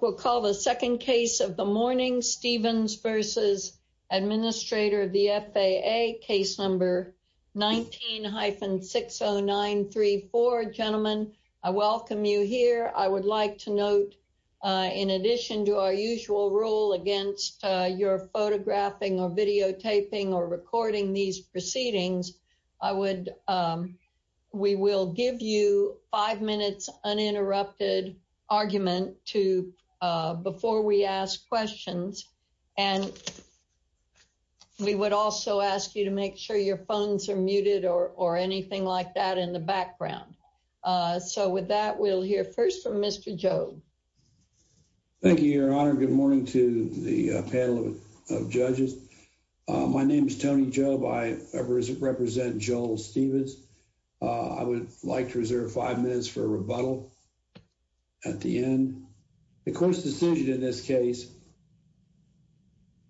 will call the second case of the morning Stevens v. Administrator of the FAA case number 19-60934. Gentlemen, I welcome you here. I would like to note in addition to our usual rule against your photographing or videotaping or recording these proceedings, we will give you five minutes uninterrupted argument before we ask questions. And we would also ask you to make sure your phones are muted or anything like that in the background. So with that, we'll hear first from Mr. Jobe. Thank you, Your Honor. Good morning to the panel of judges. My name is Tony Jobe. I represent Joel Stevens. I would like to reserve five minutes for a rebuttal at the end. The court's decision in this case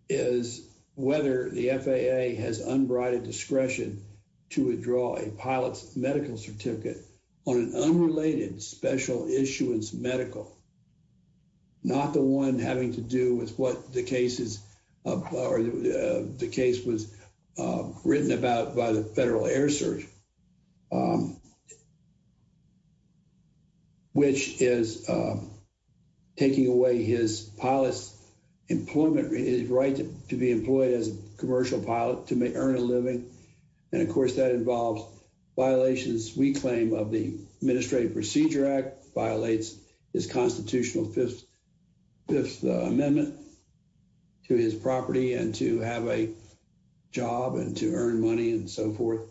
is whether the FAA has unbridled discretion to withdraw a pilot's medical certificate on an unrelated special issuance medical, not the one having to do with what the case was written about by the Federal Air Service, which is taking away his pilot's employment, his right to be employed as a commercial pilot to earn a living. And of course, that involves violations we claim of the Administrative Procedure Act, violates his constitutional Fifth Amendment to his property and to have a job and to earn money and so forth,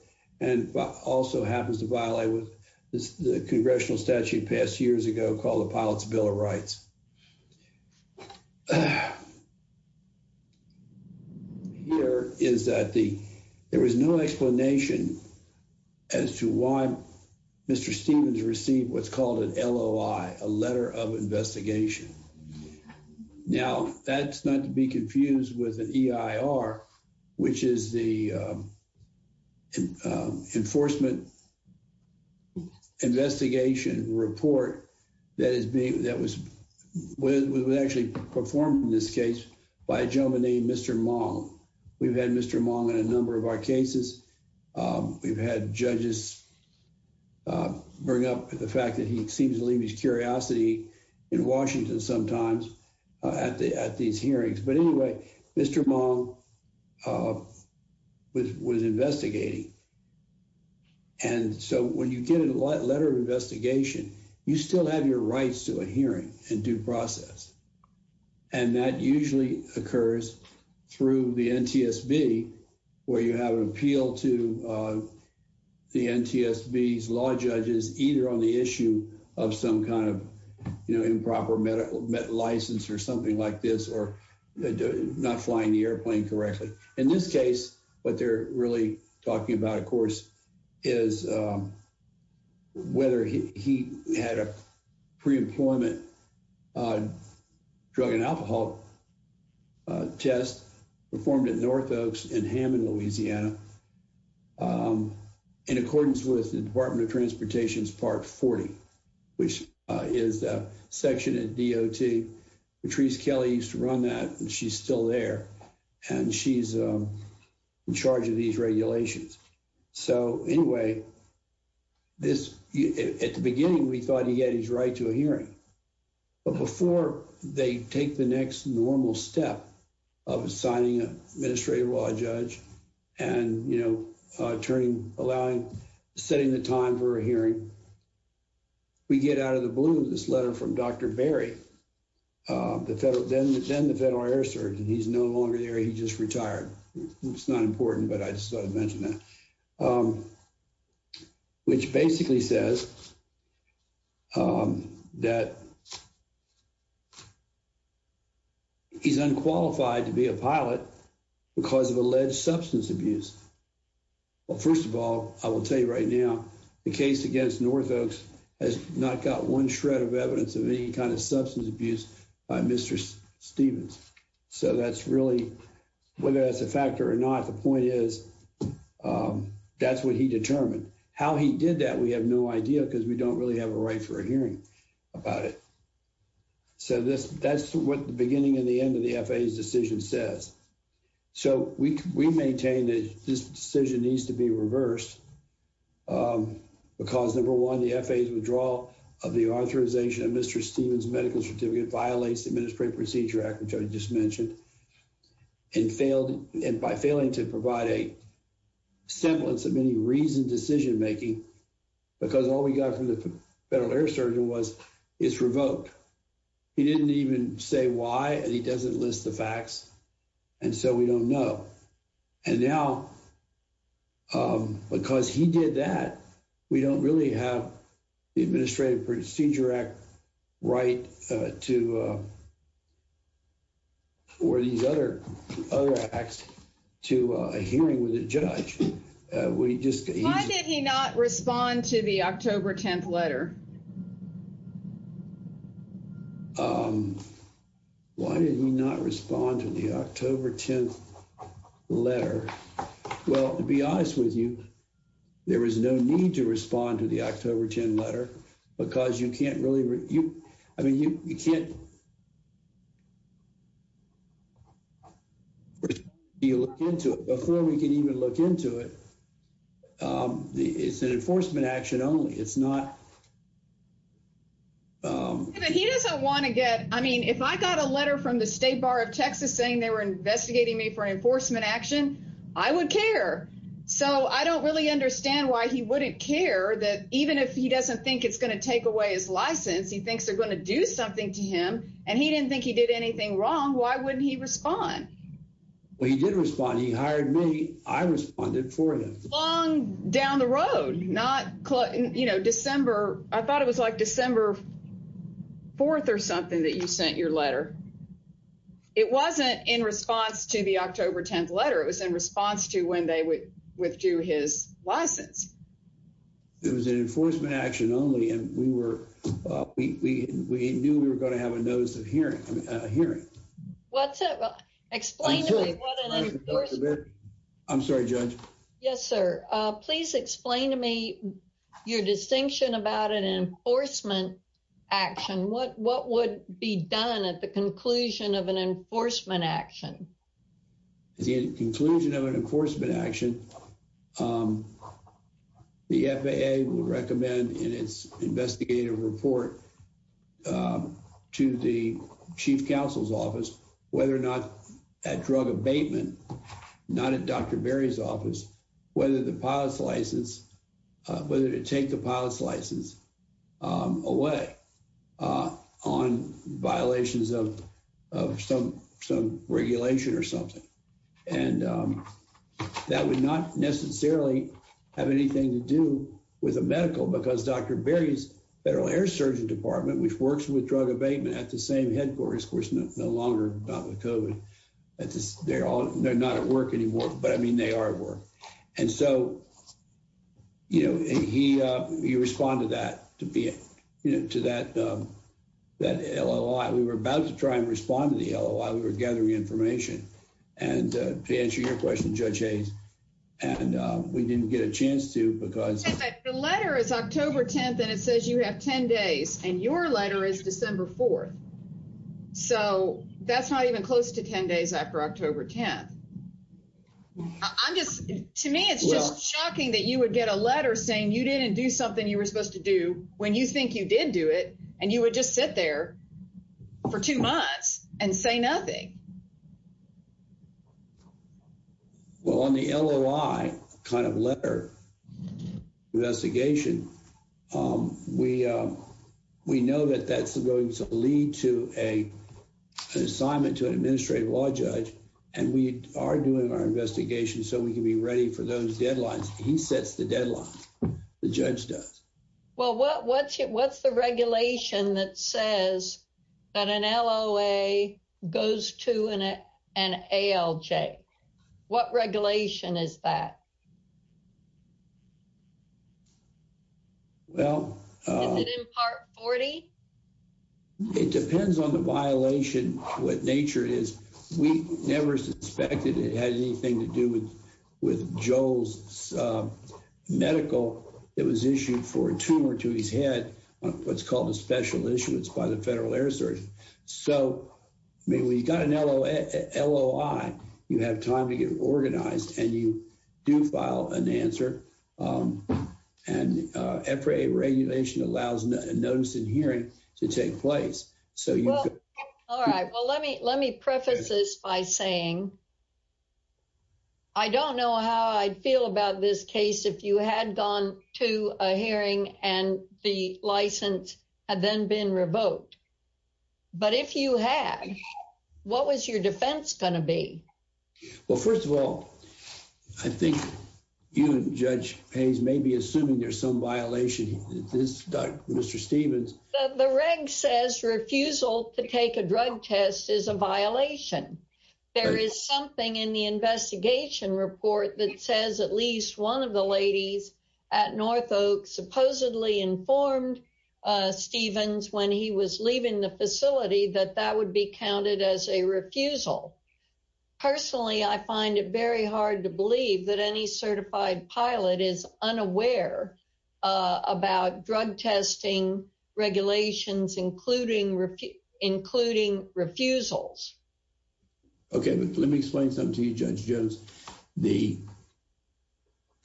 and also happens to violate what the congressional statute passed years ago called the Pilot's Bill of Rights. Here is that there was no explanation as to why Mr. Stevens received what's called an a letter of investigation. Now, that's not to be confused with an EIR, which is the Enforcement Investigation Report that was actually performed in this case by a gentleman named Mr. Mong. We've had Mr. Mong in a number of our cases. We've had judges bring up the fact that he seems to leave his curiosity in Washington sometimes at these hearings. But anyway, Mr. Mong was investigating. And so when you get a letter of investigation, you still have your rights to a hearing and due process. And that usually occurs through the NTSB, where you have an appeal to the NTSB's law judges, either on the issue of some kind of improper medical license or something like this, or not flying the airplane correctly. In this case, what they're really talking about, of course, is whether he had a preemployment drug and alcohol test performed at Northoaks in Hammond, Louisiana, in accordance with the Department of Transportation's Part 40, which is a section of DOT. Patrice Kelly used to run that, and she's still there, and she's in charge of these regulations. So anyway, at the beginning, we thought he had his right to a hearing. But before they take the next normal step of assigning an administrative law judge and, you know, turning, allowing, setting the time for a hearing, we get out of the blue with this letter from Dr. Berry, then the federal air surgeon. He's no longer there. He just retired. It's not important, but I just thought I'd mention that, which basically says that he's unqualified to be a pilot because of alleged substance abuse. Well, first of all, I will tell you right now, the case against Northoaks has not got one shred of evidence of any kind of substance abuse by Mr. Stevens. So that's really, whether that's a factor or not, the point is that's what he determined. How he did that, we have no idea because we don't really have a right for a hearing about it. So that's what the beginning and the end of the FAA's decision says. So we maintain that this decision needs to be reversed because, number one, the FAA's withdrawal of the authorization of Mr. Stevens' medical certificate violates the Administrative Procedure Act, which I just mentioned, and by failing to provide a semblance of any reasoned decision making, because all we got from the Federal Air Surgeon was it's revoked. He didn't even say why, and he doesn't list the facts, and so we don't know. And now, because he did that, we don't really have the Administrative Procedure Act right to, or these other acts, to a hearing with a judge. Why did he not respond to the October 10th letter? Why did he not respond to the October 10th letter? Well, to be honest with you, there is no need to respond to the October 10th letter because you can't really, I mean, you can't look into it. Before we can even look into it, it's an enforcement action only. It's not... But he doesn't want to get, I mean, if I got a letter from the State Bar of Texas saying they were investigating me for enforcement action, I would care. So I don't really understand why he wouldn't care that even if he doesn't think it's going to take away his license, he thinks they're going to do something to him, and he didn't think he did anything wrong, why wouldn't he respond? Well, he did respond. He hired me. I responded for him. Long down the road, not, you know, December, I thought it was like December 4th or something that you sent your letter. It wasn't in response to the October 10th letter. It was in response to when they would withdrew his license. It was an enforcement action only, and we were, we knew we were going to have a notice of hearing. Hearing. What's that? Well, explain to me. I'm sorry, Judge. Yes, sir. Please explain to me your distinction about an enforcement action. What would be done at the conclusion of an enforcement action? At the conclusion of an enforcement action, the FAA would recommend in its investigative report to the chief counsel's office, whether or not at drug abatement, not at Dr. Berry's office, whether the pilot's license, whether to take the pilot's license away on violations of some regulation or something. And that would not necessarily have anything to do with a medical because Dr. Berry's Federal Air Surgeon Department, which works with drug abatement at the same headquarters, of course, no longer not with COVID. They're all, they're not at work anymore, but I mean, they are at work. And so, you know, he, he responded that to be, you know, to that, that LLI. We were about to try and respond to the LLI. We were gathering information. And to answer your question, Judge Hayes, and we didn't get a chance to because the letter is October 10th and it says you have 10 days and your letter is December 4th. So that's not even close to 10 days after October 10th. I'm just, to me, it's just shocking that you would get a letter saying you didn't do something you were supposed to do when you think you did do it. And you would just sit there for two months and say nothing. Well, on the LLI kind of letter investigation, we, we know that that's going to lead to a, an assignment to an administrative law judge. And we are doing our investigation so we can be ready for those deadlines. He sets the deadline. The judge does. Well, what, what's it, what's the regulation that says that an LOA goes to an ALJ? What regulation is that? Well, is it in part 40? It depends on the violation. What nature is, we never suspected it had anything to do with, with Joel's medical. It was issued for a tumor to his head on what's called a special issuance by the federal air surgeon. So maybe we got an LOA, LOI, you have time to get organized and you do file an answer. And FRA regulation allows a notice and hearing to take place. So you could. All right, well, let me, let me preface this by saying I don't know how I feel about this case. If you had gone to a hearing and the license had then been revoked, but if you had, what was your defense going to be? Well, first of all, I think you and judge Hayes may be assuming there's some violation. This Doug, Mr. Stevens, the reg says refusal to take a drug test is a violation. There is something in the investigation report that says at least one of the ladies at North Oak supposedly informed Stevens when he was leaving the facility, that that would be counted as a refusal. Personally, I find it very hard to believe that any certified pilot is unaware about drug testing regulations, including ref including refusals. Okay. But let me explain something to you,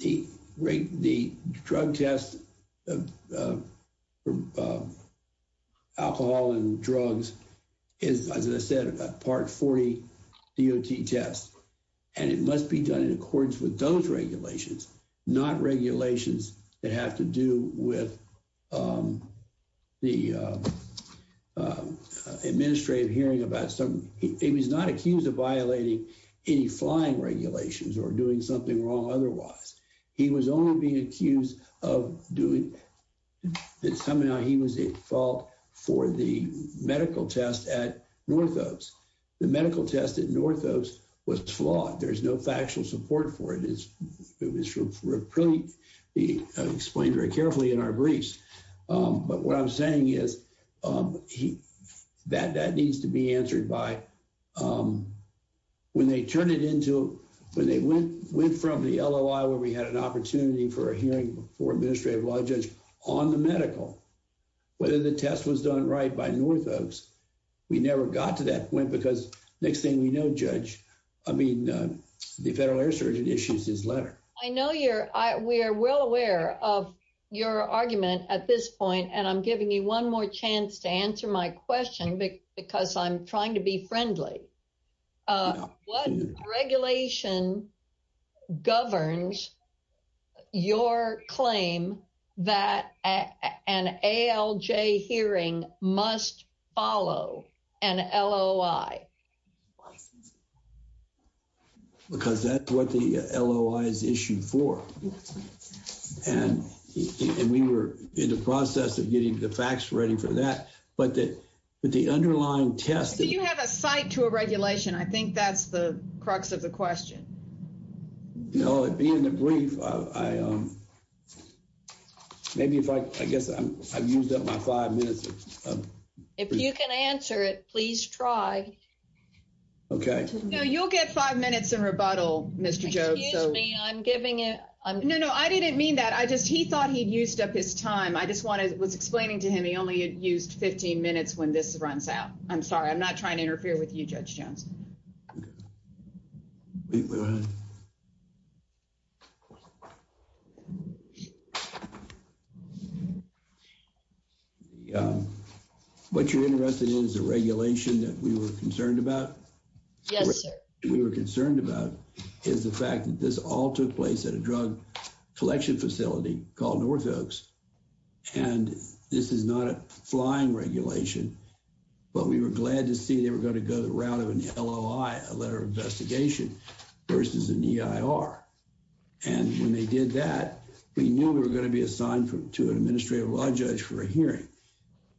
the rate, the drug test, alcohol and drugs is, as I said, a part 40 DOT test, and it must be done in accordance with those regulations, not regulations that have to do with the administrative hearing about some, he was not accused of violating any flying regulations or doing something wrong. Otherwise, he was only being accused of doing that. Somehow he was at fault for the medical test at North Oaks. The medical test at North Oaks was flawed. There's no factual support for it. It's, it was pretty explained very carefully in our briefs. But what I'm saying is, he, that, that needs to be answered by, when they turn it into, when they went, went from the LOI, where we had an opportunity for a hearing for administrative law judge on the medical, whether the test was done right by North Oaks, we never got to that point because next thing we know, judge, I mean, the federal air surgeon issues his letter. I know you're, I, we are well aware of your argument at this point. And I'm giving you one more chance to answer my question because I'm trying to be friendly. What regulation governs your claim that an ALJ hearing must follow an LOI? Because that's what the LOI is issued for. And we were in the process of getting the facts ready for that, but that, but the underlying test. Do you have a site to a regulation? I think that's the crux of the question. No, it'd be in the brief. I, maybe if I, I guess I've used up my minutes. If you can answer it, please try. Okay. No, you'll get five minutes in rebuttal, Mr. Jobes. I'm giving it. No, no, I didn't mean that. I just, he thought he'd used up his time. I just wanted, was explaining to him. He only used 15 minutes when this runs out. I'm sorry. I'm not trying to interfere with you judge Jones. What you're interested in is a regulation that we were concerned about. Yes, sir. We were concerned about is the fact that this all took place at a drug collection facility called North Oaks. And this is not a flying regulation, but we were glad to see they were going to go the route of an LOI, a letter of investigation versus an EIR. And when they did that, we knew we were going to be assigned to an administrative law judge for a hearing.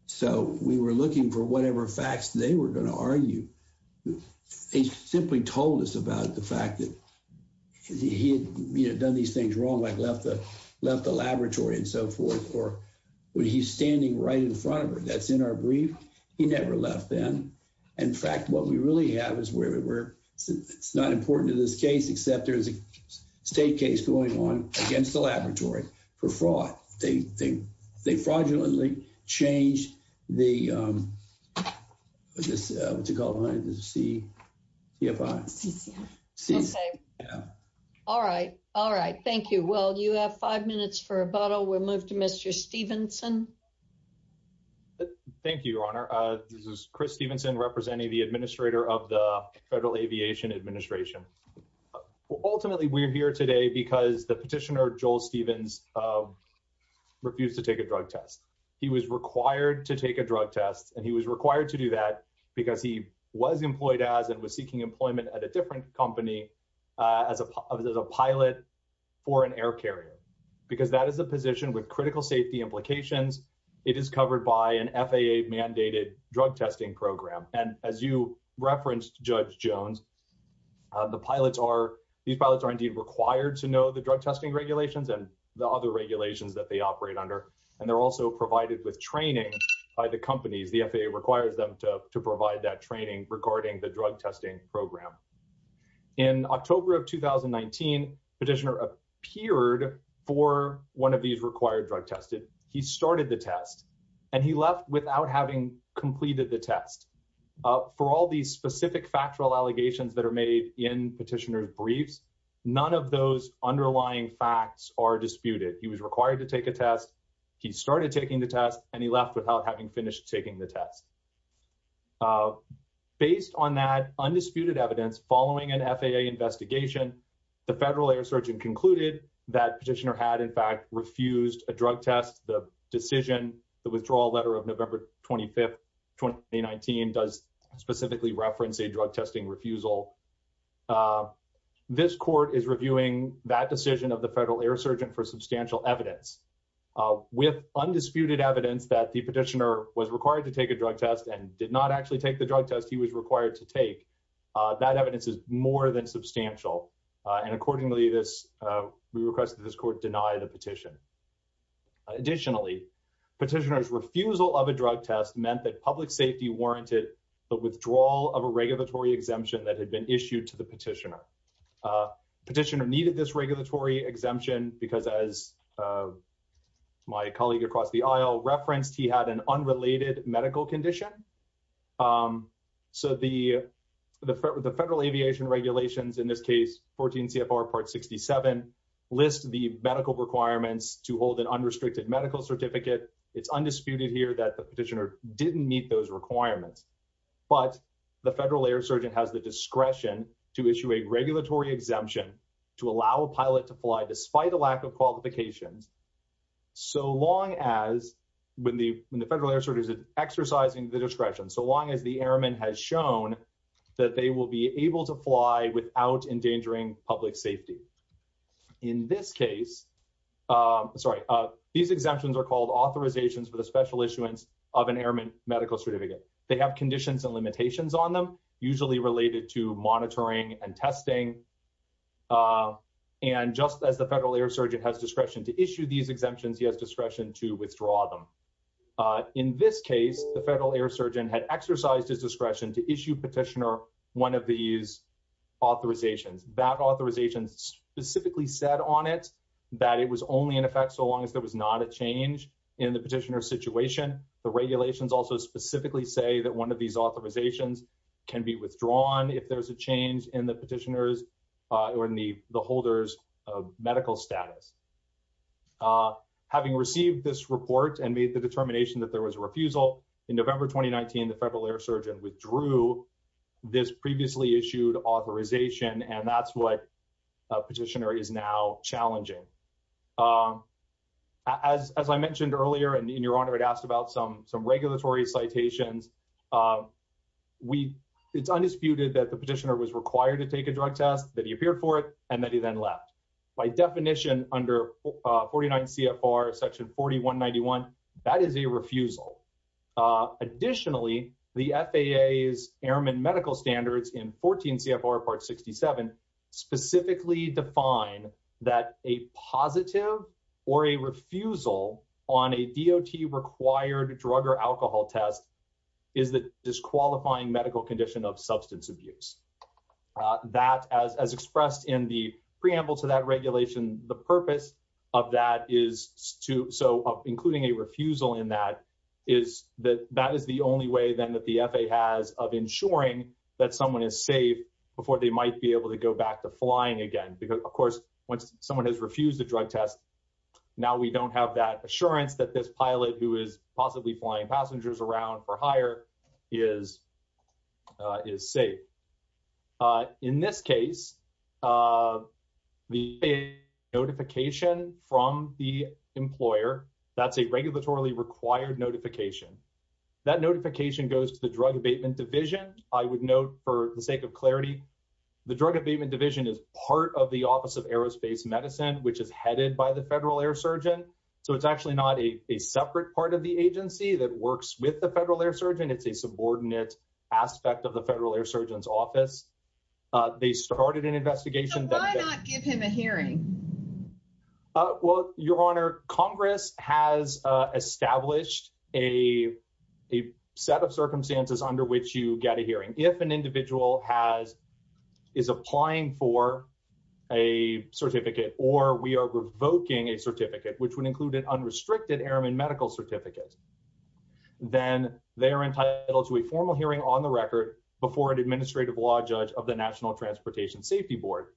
So we were looking for whatever facts they were going to argue. They simply told us about the when he's standing right in front of her, that's in our brief. He never left then. In fact, what we really have is where we were. It's not important to this case, except there's a state case going on against the laboratory for fraud. They fraudulently changed the, what's it called, the CFI. Okay. All right. All right. Thank you. Well, you have five minutes for rebuttal. We'll move to Mr. Stevenson. Thank you, Your Honor. This is Chris Stevenson representing the administrator of the Federal Aviation Administration. Ultimately, we're here today because the petitioner, Joel Stevens, refused to take a drug test. He was required to take a drug test and he was required to do that because he was employed as and was seeking employment at a different company as a pilot for an air carrier. Because that is a position with critical safety implications, it is covered by an FAA mandated drug testing program. And as you referenced, Judge Jones, the pilots are, these pilots are indeed required to know the drug testing regulations and the other regulations that they operate under. And they're also provided with training by the companies. The FAA requires them to provide that training regarding the drug testing program. In October of 2019, petitioner appeared for one of these required drug testing. He started the test and he left without having completed the test. For all these specific factual allegations that are made in petitioner's briefs, none of those underlying facts are disputed. He was required to take a test. He started taking the test and he left without having finished taking the test. Based on that undisputed evidence, following an FAA investigation, the Federal Air Surgeon concluded that petitioner had, in fact, refused a drug test. The decision, the withdrawal letter of November 25, 2019, does specifically reference a drug testing refusal. This court is reviewing that decision of the Federal Air Surgeon for substantial evidence. With undisputed evidence that the petitioner was required to take a drug test and did not actually take the drug test he was required to take, that evidence is more than substantial. And accordingly, this, we request that this court deny the petition. Additionally, petitioner's refusal of a drug test meant that public safety warranted the withdrawal of a regulatory exemption that had been issued to the petitioner. Petitioner needed this regulatory exemption because, as my colleague across the aisle referenced, he had an unrelated medical condition. So the Federal Aviation Regulations, in this case 14 CFR Part 67, lists the medical requirements to hold an unrestricted medical certificate. It's undisputed here that the petitioner didn't meet those requirements. But the Federal Air Surgeon has the discretion to issue a regulatory exemption to allow a pilot to fly despite a lack of qualifications so long as, when the Federal Air Surgeon is exercising the discretion, so long as the airman has shown that they will be able to fly without endangering public safety. In this case, these exemptions are called authorizations for the special issuance of an airman medical certificate. They have conditions and limitations on them, usually related to monitoring and testing. And just as the Federal Air Surgeon has discretion to issue these exemptions, he has discretion to withdraw them. In this case, the Federal Air Surgeon had exercised his discretion to issue petitioner one of these authorizations. That authorization specifically said on it that it was only in effect so long as there was not a change in the petitioner's The regulations also specifically say that one of these authorizations can be withdrawn if there's a change in the petitioner's or in the holder's medical status. Having received this report and made the determination that there was a refusal, in November 2019, the Federal Air Surgeon withdrew this previously issued authorization, and that's what a petitioner is now challenging. As I mentioned earlier, and Your Honor had asked about some regulatory citations, it's undisputed that the petitioner was required to take a drug test, that he appeared for it, and that he then left. By definition, under 49 CFR section 4191, that is a refusal. Additionally, the FAA's airman medical standards in 14 CFR part 67 specifically define that a positive or a refusal on a DOT-required drug or alcohol test is the disqualifying medical condition of substance abuse. That, as expressed in the preamble to that regulation, the purpose of that is to, so including a refusal in that, is that that is the only way then that the FAA has of ensuring that someone is safe before they might be able to go back to flying again. Because, once someone has refused a drug test, now we don't have that assurance that this pilot, who is possibly flying passengers around for hire, is safe. In this case, the notification from the employer, that's a regulatory-required notification, that notification goes to the Drug Abatement Division. I would note, for the sake of clarity, the Drug Abatement Division is part of the Office of Aerospace Medicine, which is headed by the Federal Air Surgeon. So, it's actually not a separate part of the agency that works with the Federal Air Surgeon. It's a subordinate aspect of the Federal Air Surgeon's office. They started an investigation. So, why not give him a hearing? Well, Your Honor, Congress has established a set of circumstances under which you get a hearing. If an individual is applying for a certificate or we are revoking a certificate, which would include an unrestricted airman medical certificate, then they are entitled to a formal hearing on the record before an administrative law judge of the National Transportation Safety Board.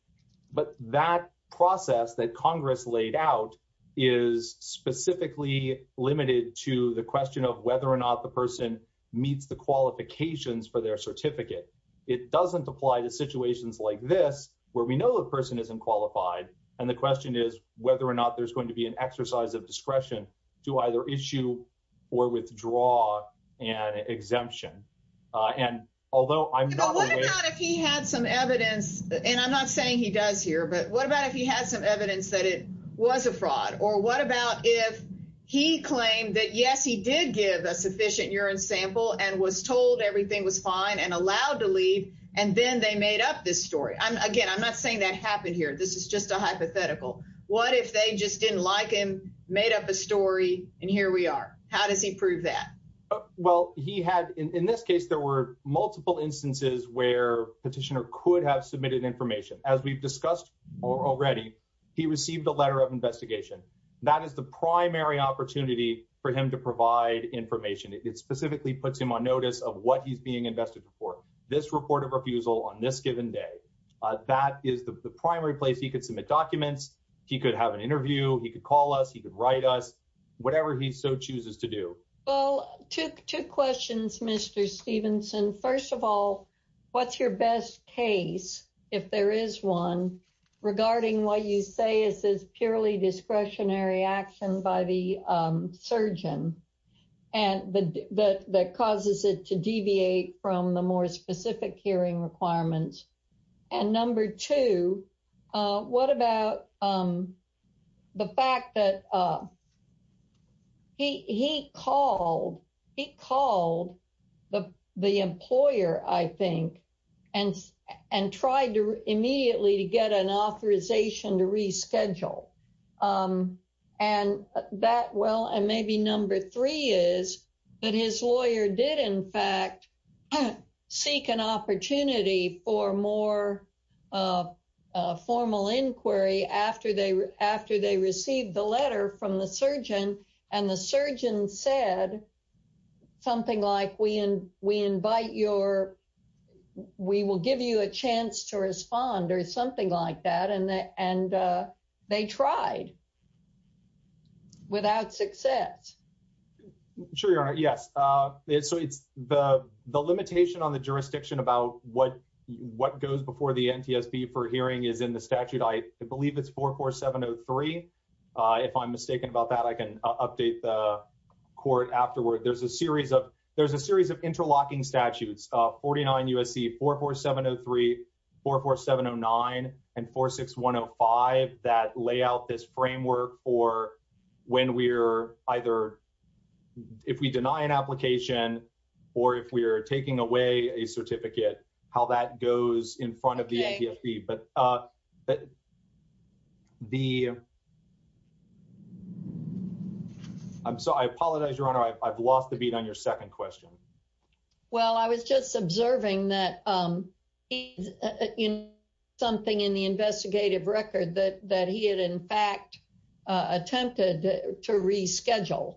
But that process that Congress laid out is specifically limited to the question of whether or not the person meets the qualifications for their certificate. It doesn't apply to situations like this, where we know a person isn't qualified, and the question is whether or not there's going to be an exercise of discretion to either issue or withdraw an exemption. And although I'm not aware— But what about if he had some evidence, and I'm not saying he does here, but what about if he had some evidence that it was a sufficient urine sample and was told everything was fine and allowed to leave, and then they made up this story? Again, I'm not saying that happened here. This is just a hypothetical. What if they just didn't like him, made up a story, and here we are? How does he prove that? Well, he had— In this case, there were multiple instances where a petitioner could have submitted information. As we've discussed already, he received a letter of investigation. That is the primary opportunity for him to provide information. It specifically puts him on notice of what he's being invested for, this report of refusal on this given day. That is the primary place he could submit documents, he could have an interview, he could call us, he could write us, whatever he so chooses to do. Well, two questions, Mr. Stevenson. First of all, what's your best case, if there is one, regarding what you say is purely discretionary action by the surgeon that causes it to deviate from the more specific hearing requirements? Number two, what about the fact that he called the employer, I think, and tried immediately to get an authorization to reschedule? And maybe number three is that his lawyer did, in fact, seek an opportunity for more formal inquiry after they received the letter from the surgeon, and the surgeon said something like, we will give you a chance to respond, or something like that, and they tried without success. Sure, Your Honor, yes. So, the limitation on the jurisdiction about what goes before the NTSB for hearing is in the statute, I believe it's 44703. If I'm mistaken about that, I can update the court afterward. There's a series of interlocking statutes, 49 U.S.C. 44703, 44709, and 46105, that lay out this framework for when we're either, if we deny an application, or if we're taking away a certificate, how that goes in front of the NTSB. But the, I'm sorry, I apologize, Your Honor, I've lost the beat on your second question. Well, I was just observing that he did something in the investigative record that he had, in fact, attempted to reschedule.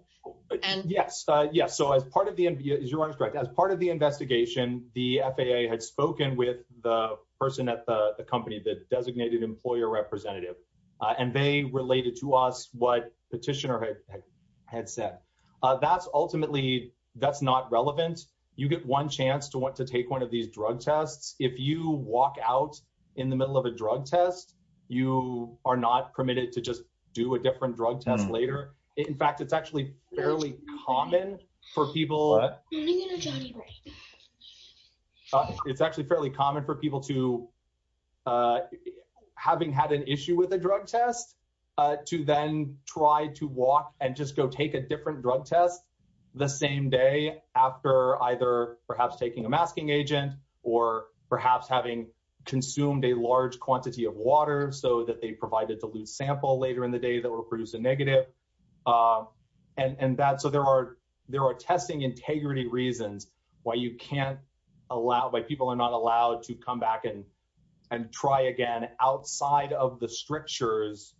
Yes, yes. So, as part of the, as Your Honor's correct, as part of the investigation, the FAA had spoken with the person at the company, the designated employer representative, and they related to us what Petitioner had said. That's ultimately, that's not relevant. You get one chance to want to take one of these drug tests. If you walk out in the middle of a drug test, you are not permitted to just do a different drug test later. In fact, it's actually fairly common for people, it's actually fairly common for people to, having had an issue with a drug test, to then try to walk and just go take a different drug test the same day after either perhaps taking a masking agent or perhaps having consumed a large quantity of water so that they provided to lose sample later in the day that will produce a negative. And that, so there are, there are testing integrity reasons why you can't allow, why people are not allowed to come back and try again outside of the strictures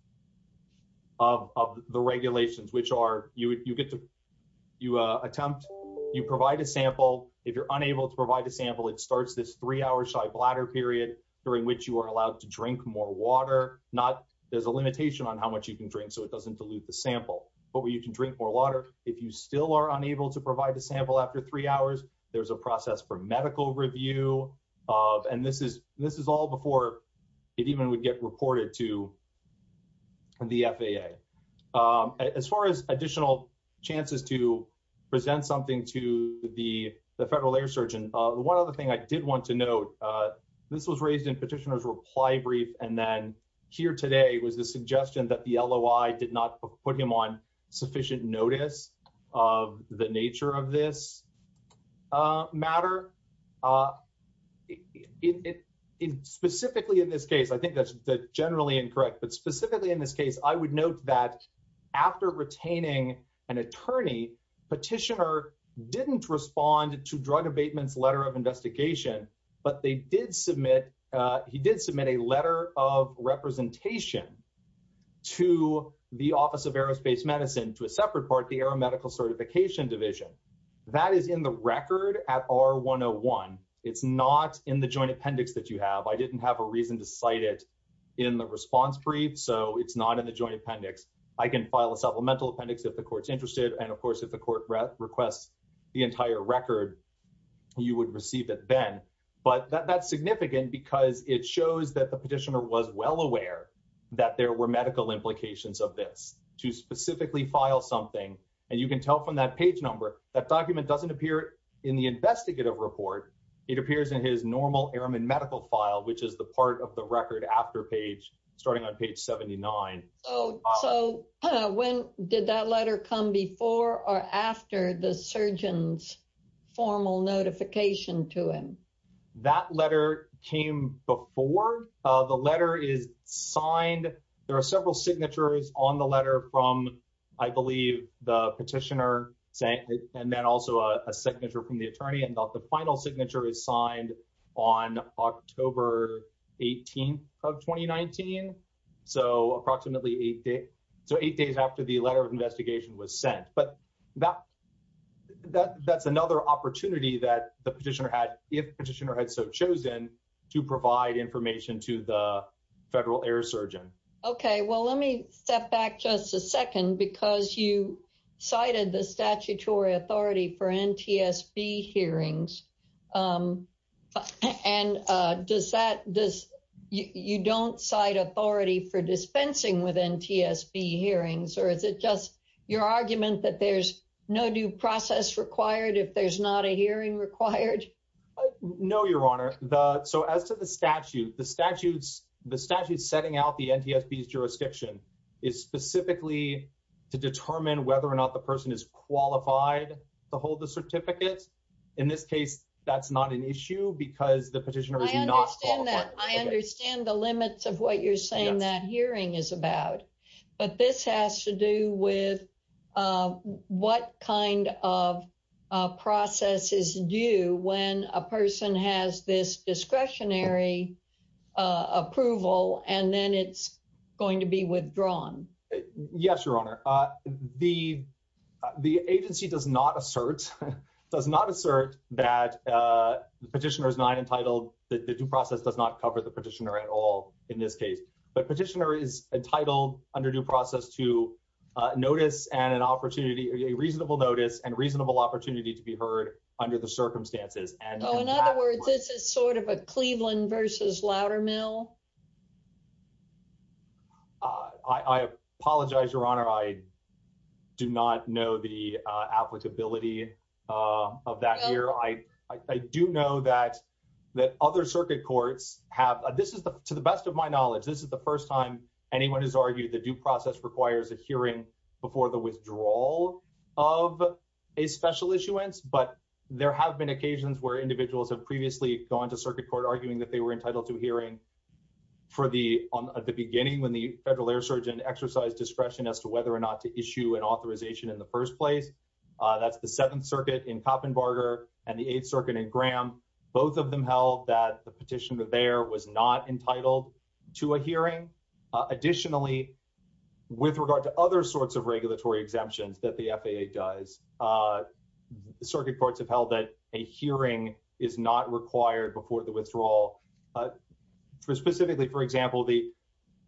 of the regulations, which are, you get to, you attempt, you provide a sample. If you're unable to provide a sample, it starts this three-hour shy bladder period during which you are allowed to drink more water, not, there's a limitation on how much you can drink so it doesn't dilute the sample, but where you can drink more water. If you still are unable to provide a sample after three hours, there's a process for medical review of, and this is all before it even would get reported to the FAA. As far as additional chances to present something to the federal air surgeon, the one other thing I did want to note, this was raised in petitioner's reply brief and then here today was the suggestion that the LOI did not put him on specifically in this case. I think that's generally incorrect, but specifically in this case, I would note that after retaining an attorney, petitioner didn't respond to drug abatement's letter of investigation, but they did submit, he did submit a letter of representation to the office of aerospace medicine to a separate part, the aeromedical certification division. That is in the record at R101. It's not in the joint appendix that you have. I didn't have a reason to cite it in the response brief, so it's not in the joint appendix. I can file a supplemental appendix if the court's interested. And of course, if the court requests the entire record, you would receive it then, but that's significant because it shows that the petitioner was well aware that there were medical implications of this to specifically file something. And you can tell from that page number, that document doesn't appear in the investigative report. It appears in his normal airman medical file, which is the part of the record after page, starting on page 79. So when did that letter come before or after the surgeon's formal notification to him? That letter came before the letter is signed. There are several signatures on the letter from, I believe, the petitioner, and then also a signature from the attorney. And the final signature is signed on October 18th of 2019. So approximately eight days after the letter of investigation was sent. But that's another opportunity that the petitioner had, if the petitioner had so chosen, to provide information to the federal air surgeon. Okay, well, let me step back just a second, because you cited the statutory authority for NTSB hearings. And you don't cite authority for dispensing with NTSB hearings? Or is it just your argument that there's no due process required if there's not a hearing required? No, Your Honor. So as to the is specifically to determine whether or not the person is qualified to hold the certificate. In this case, that's not an issue because the petitioner is not qualified. I understand that. I understand the limits of what you're saying that hearing is about. But this has to do with what kind of process is due when a person has this discretionary approval, and then it's going to be withdrawn? Yes, Your Honor. The agency does not assert that the petitioner is not entitled, the due process does not cover the petitioner at all in this case. But petitioner is entitled under due process to notice and an opportunity, a reasonable notice and reasonable opportunity to be heard under the circumstances. And in other Cleveland versus Loudermill? I apologize, Your Honor, I do not know the applicability of that here. I do know that that other circuit courts have this is the to the best of my knowledge. This is the first time anyone has argued the due process requires a hearing before the withdrawal of a special issuance. But there have been occasions where individuals have previously gone to circuit court arguing that they were entitled to a hearing for the on the beginning when the federal air surgeon exercise discretion as to whether or not to issue an authorization in the first place. That's the Seventh Circuit in Copenbarger and the Eighth Circuit in Graham. Both of them held that the petitioner there was not entitled to a hearing. Additionally, with regard to other sorts of regulatory exemptions that the FAA does, the circuit courts have held that a hearing is not required before the withdrawal. For specifically, for example, the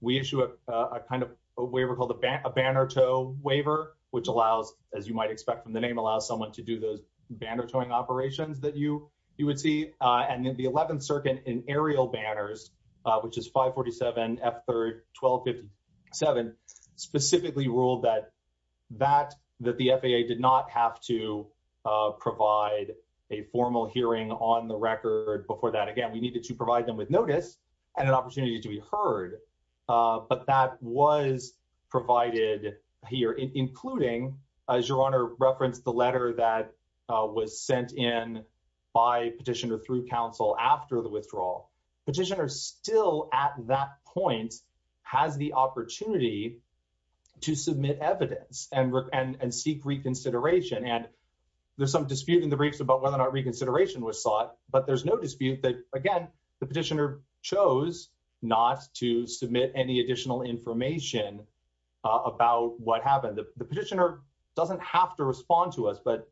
we issue a kind of a waiver called a banner tow waiver, which allows, as you might expect from the name, allows someone to do those banner towing operations that you you would see. And then the 11th Circuit in aerial banners, which is five forty seven after twelve fifty seven, specifically ruled that that that the FAA did not have to provide a formal hearing on the record before that. Again, we needed to provide them with notice and an opportunity to be heard. But that was provided here, including, as your honor referenced, the letter that was sent in by petitioner through counsel after the withdrawal. Petitioners still at that point has the opportunity to submit evidence and and seek reconsideration. And there's some dispute in the briefs about whether or not reconsideration was sought. But there's no dispute that, again, the petitioner chose not to submit any additional information about what happened. The petitioner doesn't have to respond to us, but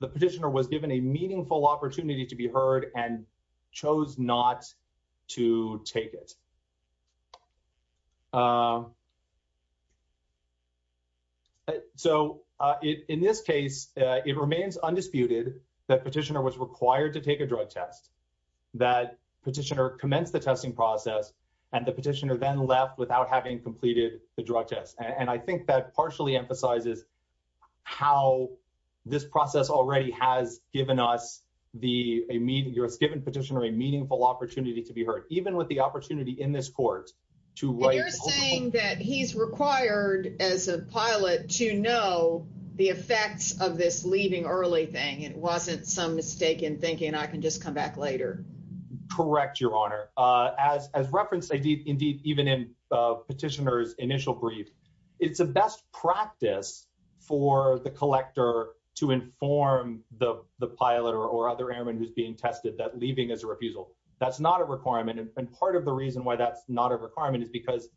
the petitioner was given a meaningful opportunity to be heard and chose not to take it. So in this case, it remains undisputed that petitioner was required to take a drug test, that petitioner commenced the testing process and the petitioner then left without having completed the drug test. And I think that partially emphasizes how this process already has given us the a meeting given petitioner a meaningful opportunity to be heard, even with the opportunity in this court to write. You're saying that he's required as a pilot to know the effects of this leaving early thing. It wasn't some mistaken thinking I can just come back Correct, Your Honor. As as referenced, indeed, even in petitioner's initial brief, it's a best practice for the collector to inform the pilot or other airmen who's being tested that leaving is a refusal. That's not a requirement. And part of the reason why that's not a requirement is because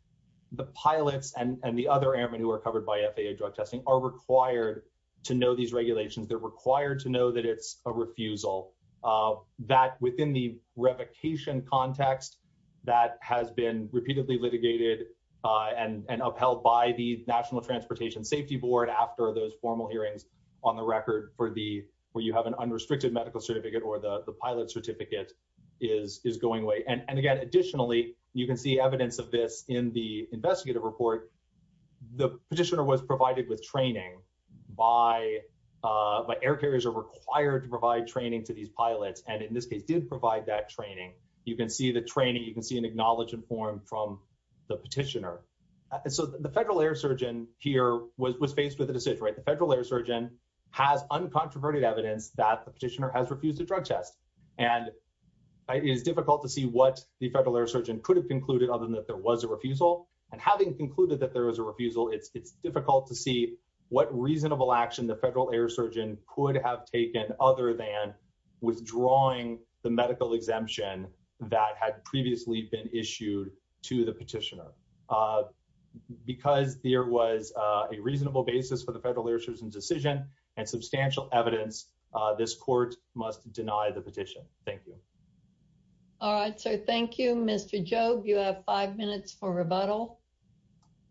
the pilots and the other airmen who are covered by FAA drug testing are required to know these regulations. They're required to know that it's a refusal that within the revocation context that has been repeatedly litigated and upheld by the National Transportation Safety Board after those formal hearings on the record for the where you have an unrestricted medical certificate or the pilot certificate is is going away. And again, additionally, you can see evidence of this in the investigative report. The petitioner was provided with training by by air carriers are required to provide training to these pilots. And in this case, didn't provide that training. You can see the training. You can see an acknowledgement form from the petitioner. So the federal air surgeon here was faced with a decision. The federal air surgeon has uncontroverted evidence that the petitioner has refused a drug test. And it is difficult to see what the federal air surgeon could have concluded other than that there was a refusal. And having concluded that there was a refusal, it's difficult to see what reasonable action the federal air surgeon could have taken other than withdrawing the medical exemption that had previously been issued to the petitioner. Because there was a reasonable basis for the federal air surgeon's decision and substantial evidence, this court must deny the petition. Thank you. All right, sir. Thank you, Mr. Job. You have five minutes for rebuttal.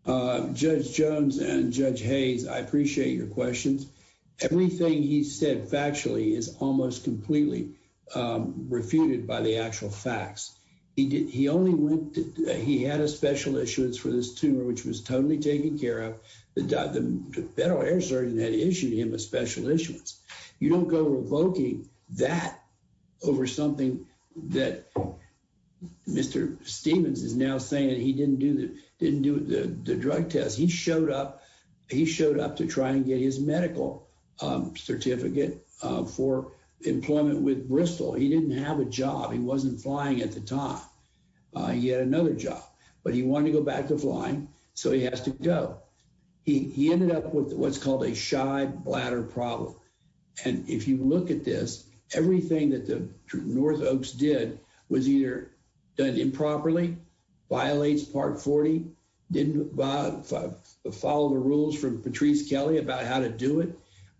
Uh, Judge Jones and Judge Hayes, I appreciate your questions. Everything he said factually is almost completely refuted by the actual facts. He did. He only went. He had a special issuance for this tumor, which was totally taken care of. The federal air surgeon had issued him a special issuance. You don't go revoking that over something that Mr. Stevens is now saying he didn't do the didn't do the drug test. He showed up. He showed up to try and get his medical certificate for employment with Bristol. He didn't have a job. He wasn't flying at the time. He had another job, but he wanted to go back to flying. So he has to go. He ended up with what's called a shy bladder problem. And if you look at this, everything that the North Oaks did was either done improperly, violates part 40, didn't follow the rules from Patrice Kelly about how to do it.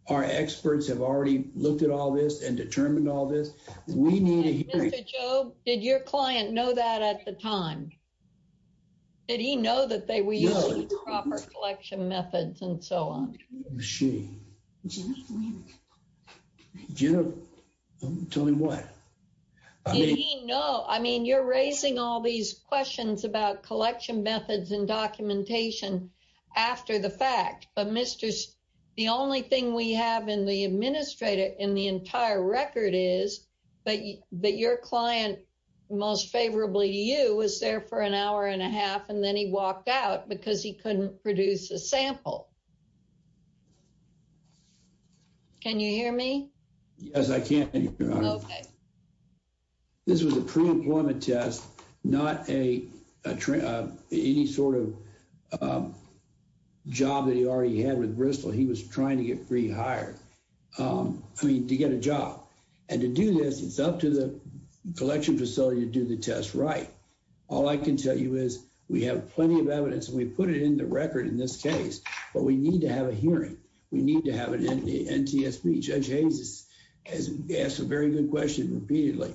Our experts have already looked at all this and determined all this. We need to hear it. Mr. Job, did your client know that at the time? Did he know that they were using proper collection methods and so on? Was she? Do you know? Tell me what I mean? No. I mean, you're raising all these questions about collection methods and documentation after the fact. But Mr. the only thing we have in the administrator in the entire record is that that your client, most favorably, you was there for an hour and a half and then he walked out because he couldn't produce a sample. Can you hear me? Yes, I can. This was a pre-employment test, not any sort of job that he already had with Bristol. He was trying to get rehired. I mean, to get a job and to do this, it's up to the collection facility to do the test right. All I can tell you is we have plenty of evidence and we put it in the record in this case, but we need to have a hearing. We need to have an NTSB. Judge Hayes has asked a very good question repeatedly.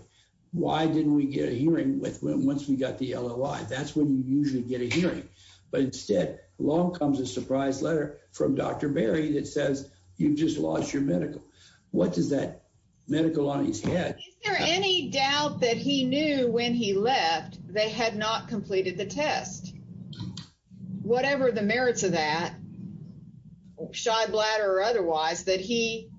Why didn't we get a hearing once we got the LOI? That's when you usually get a hearing. But instead, along comes a surprise letter from Dr. Berry that says you've just lost your medical. What does that medical on his head? Is there any doubt that he knew when he left they had not completed the test? Whatever the merits of that, shy bladder or otherwise, that he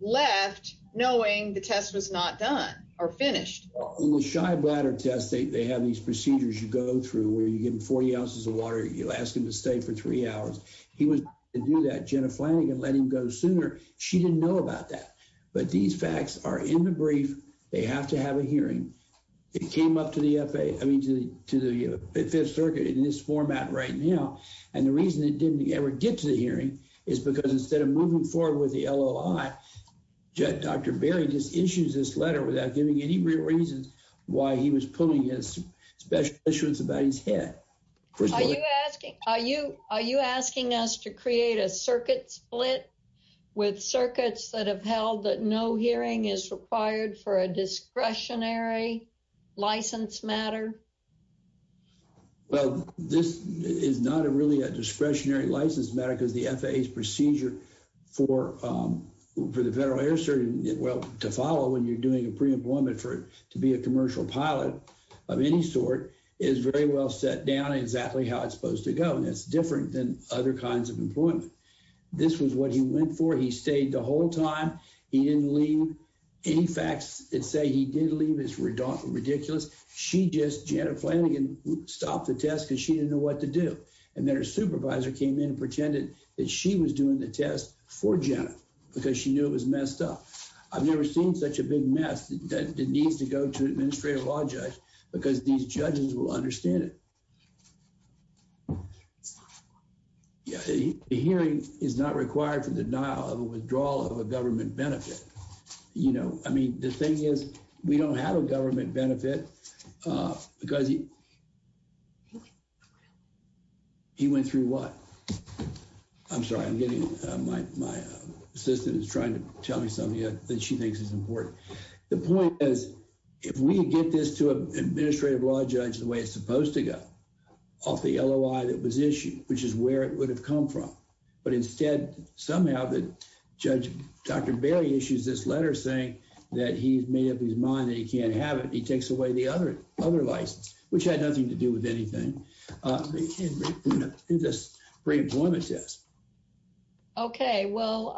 left knowing the test was not done or finished? Well, in the shy bladder test, they have these procedures you go through where you give him 40 ounces of water. You'll ask him to stay for three hours. He was to do that. Jenna Flanagan let him go sooner. She didn't know about that. But these to the Fifth Circuit in this format right now, and the reason it didn't ever get to the hearing is because instead of moving forward with the LOI, Dr. Berry just issues this letter without giving any real reasons why he was pulling his special issuance about his head. Are you asking us to create a circuit split with circuits that have held that no hearing is required for a matter? Well, this is not a really a discretionary license matter because the FAA's procedure for the Federal Air Service, well to follow when you're doing a pre-employment for it to be a commercial pilot of any sort is very well set down exactly how it's supposed to go. And it's different than other kinds of employment. This was what he went for. He stayed the whole time. He didn't leave any facts that say he did leave is ridiculous. She just, Jenna Flanagan stopped the test because she didn't know what to do. And then her supervisor came in and pretended that she was doing the test for Jenna because she knew it was messed up. I've never seen such a big mess that needs to go to an Administrative Law Judge because these judges will understand it. The hearing is not required for the denial of a withdrawal of a government benefit. You know, I mean, the thing is we don't have a government benefit because he he went through what? I'm sorry, I'm getting my assistant is trying to tell me something that she thinks is important. The point is if we get this to an Administrative Law Judge the way it's supposed to go off the LOI that was issued, which is where it would have come from. But instead, somehow, the Judge, Dr. Bailey issues this letter saying that he's made up his mind that he can't have it. He takes away the other other license, which had nothing to do with anything in this pre-employment test. Okay, well,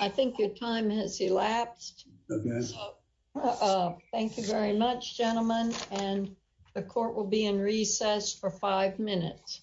I think your time has elapsed. Okay. Thank you very much, gentlemen, and the court will be in recess for five minutes.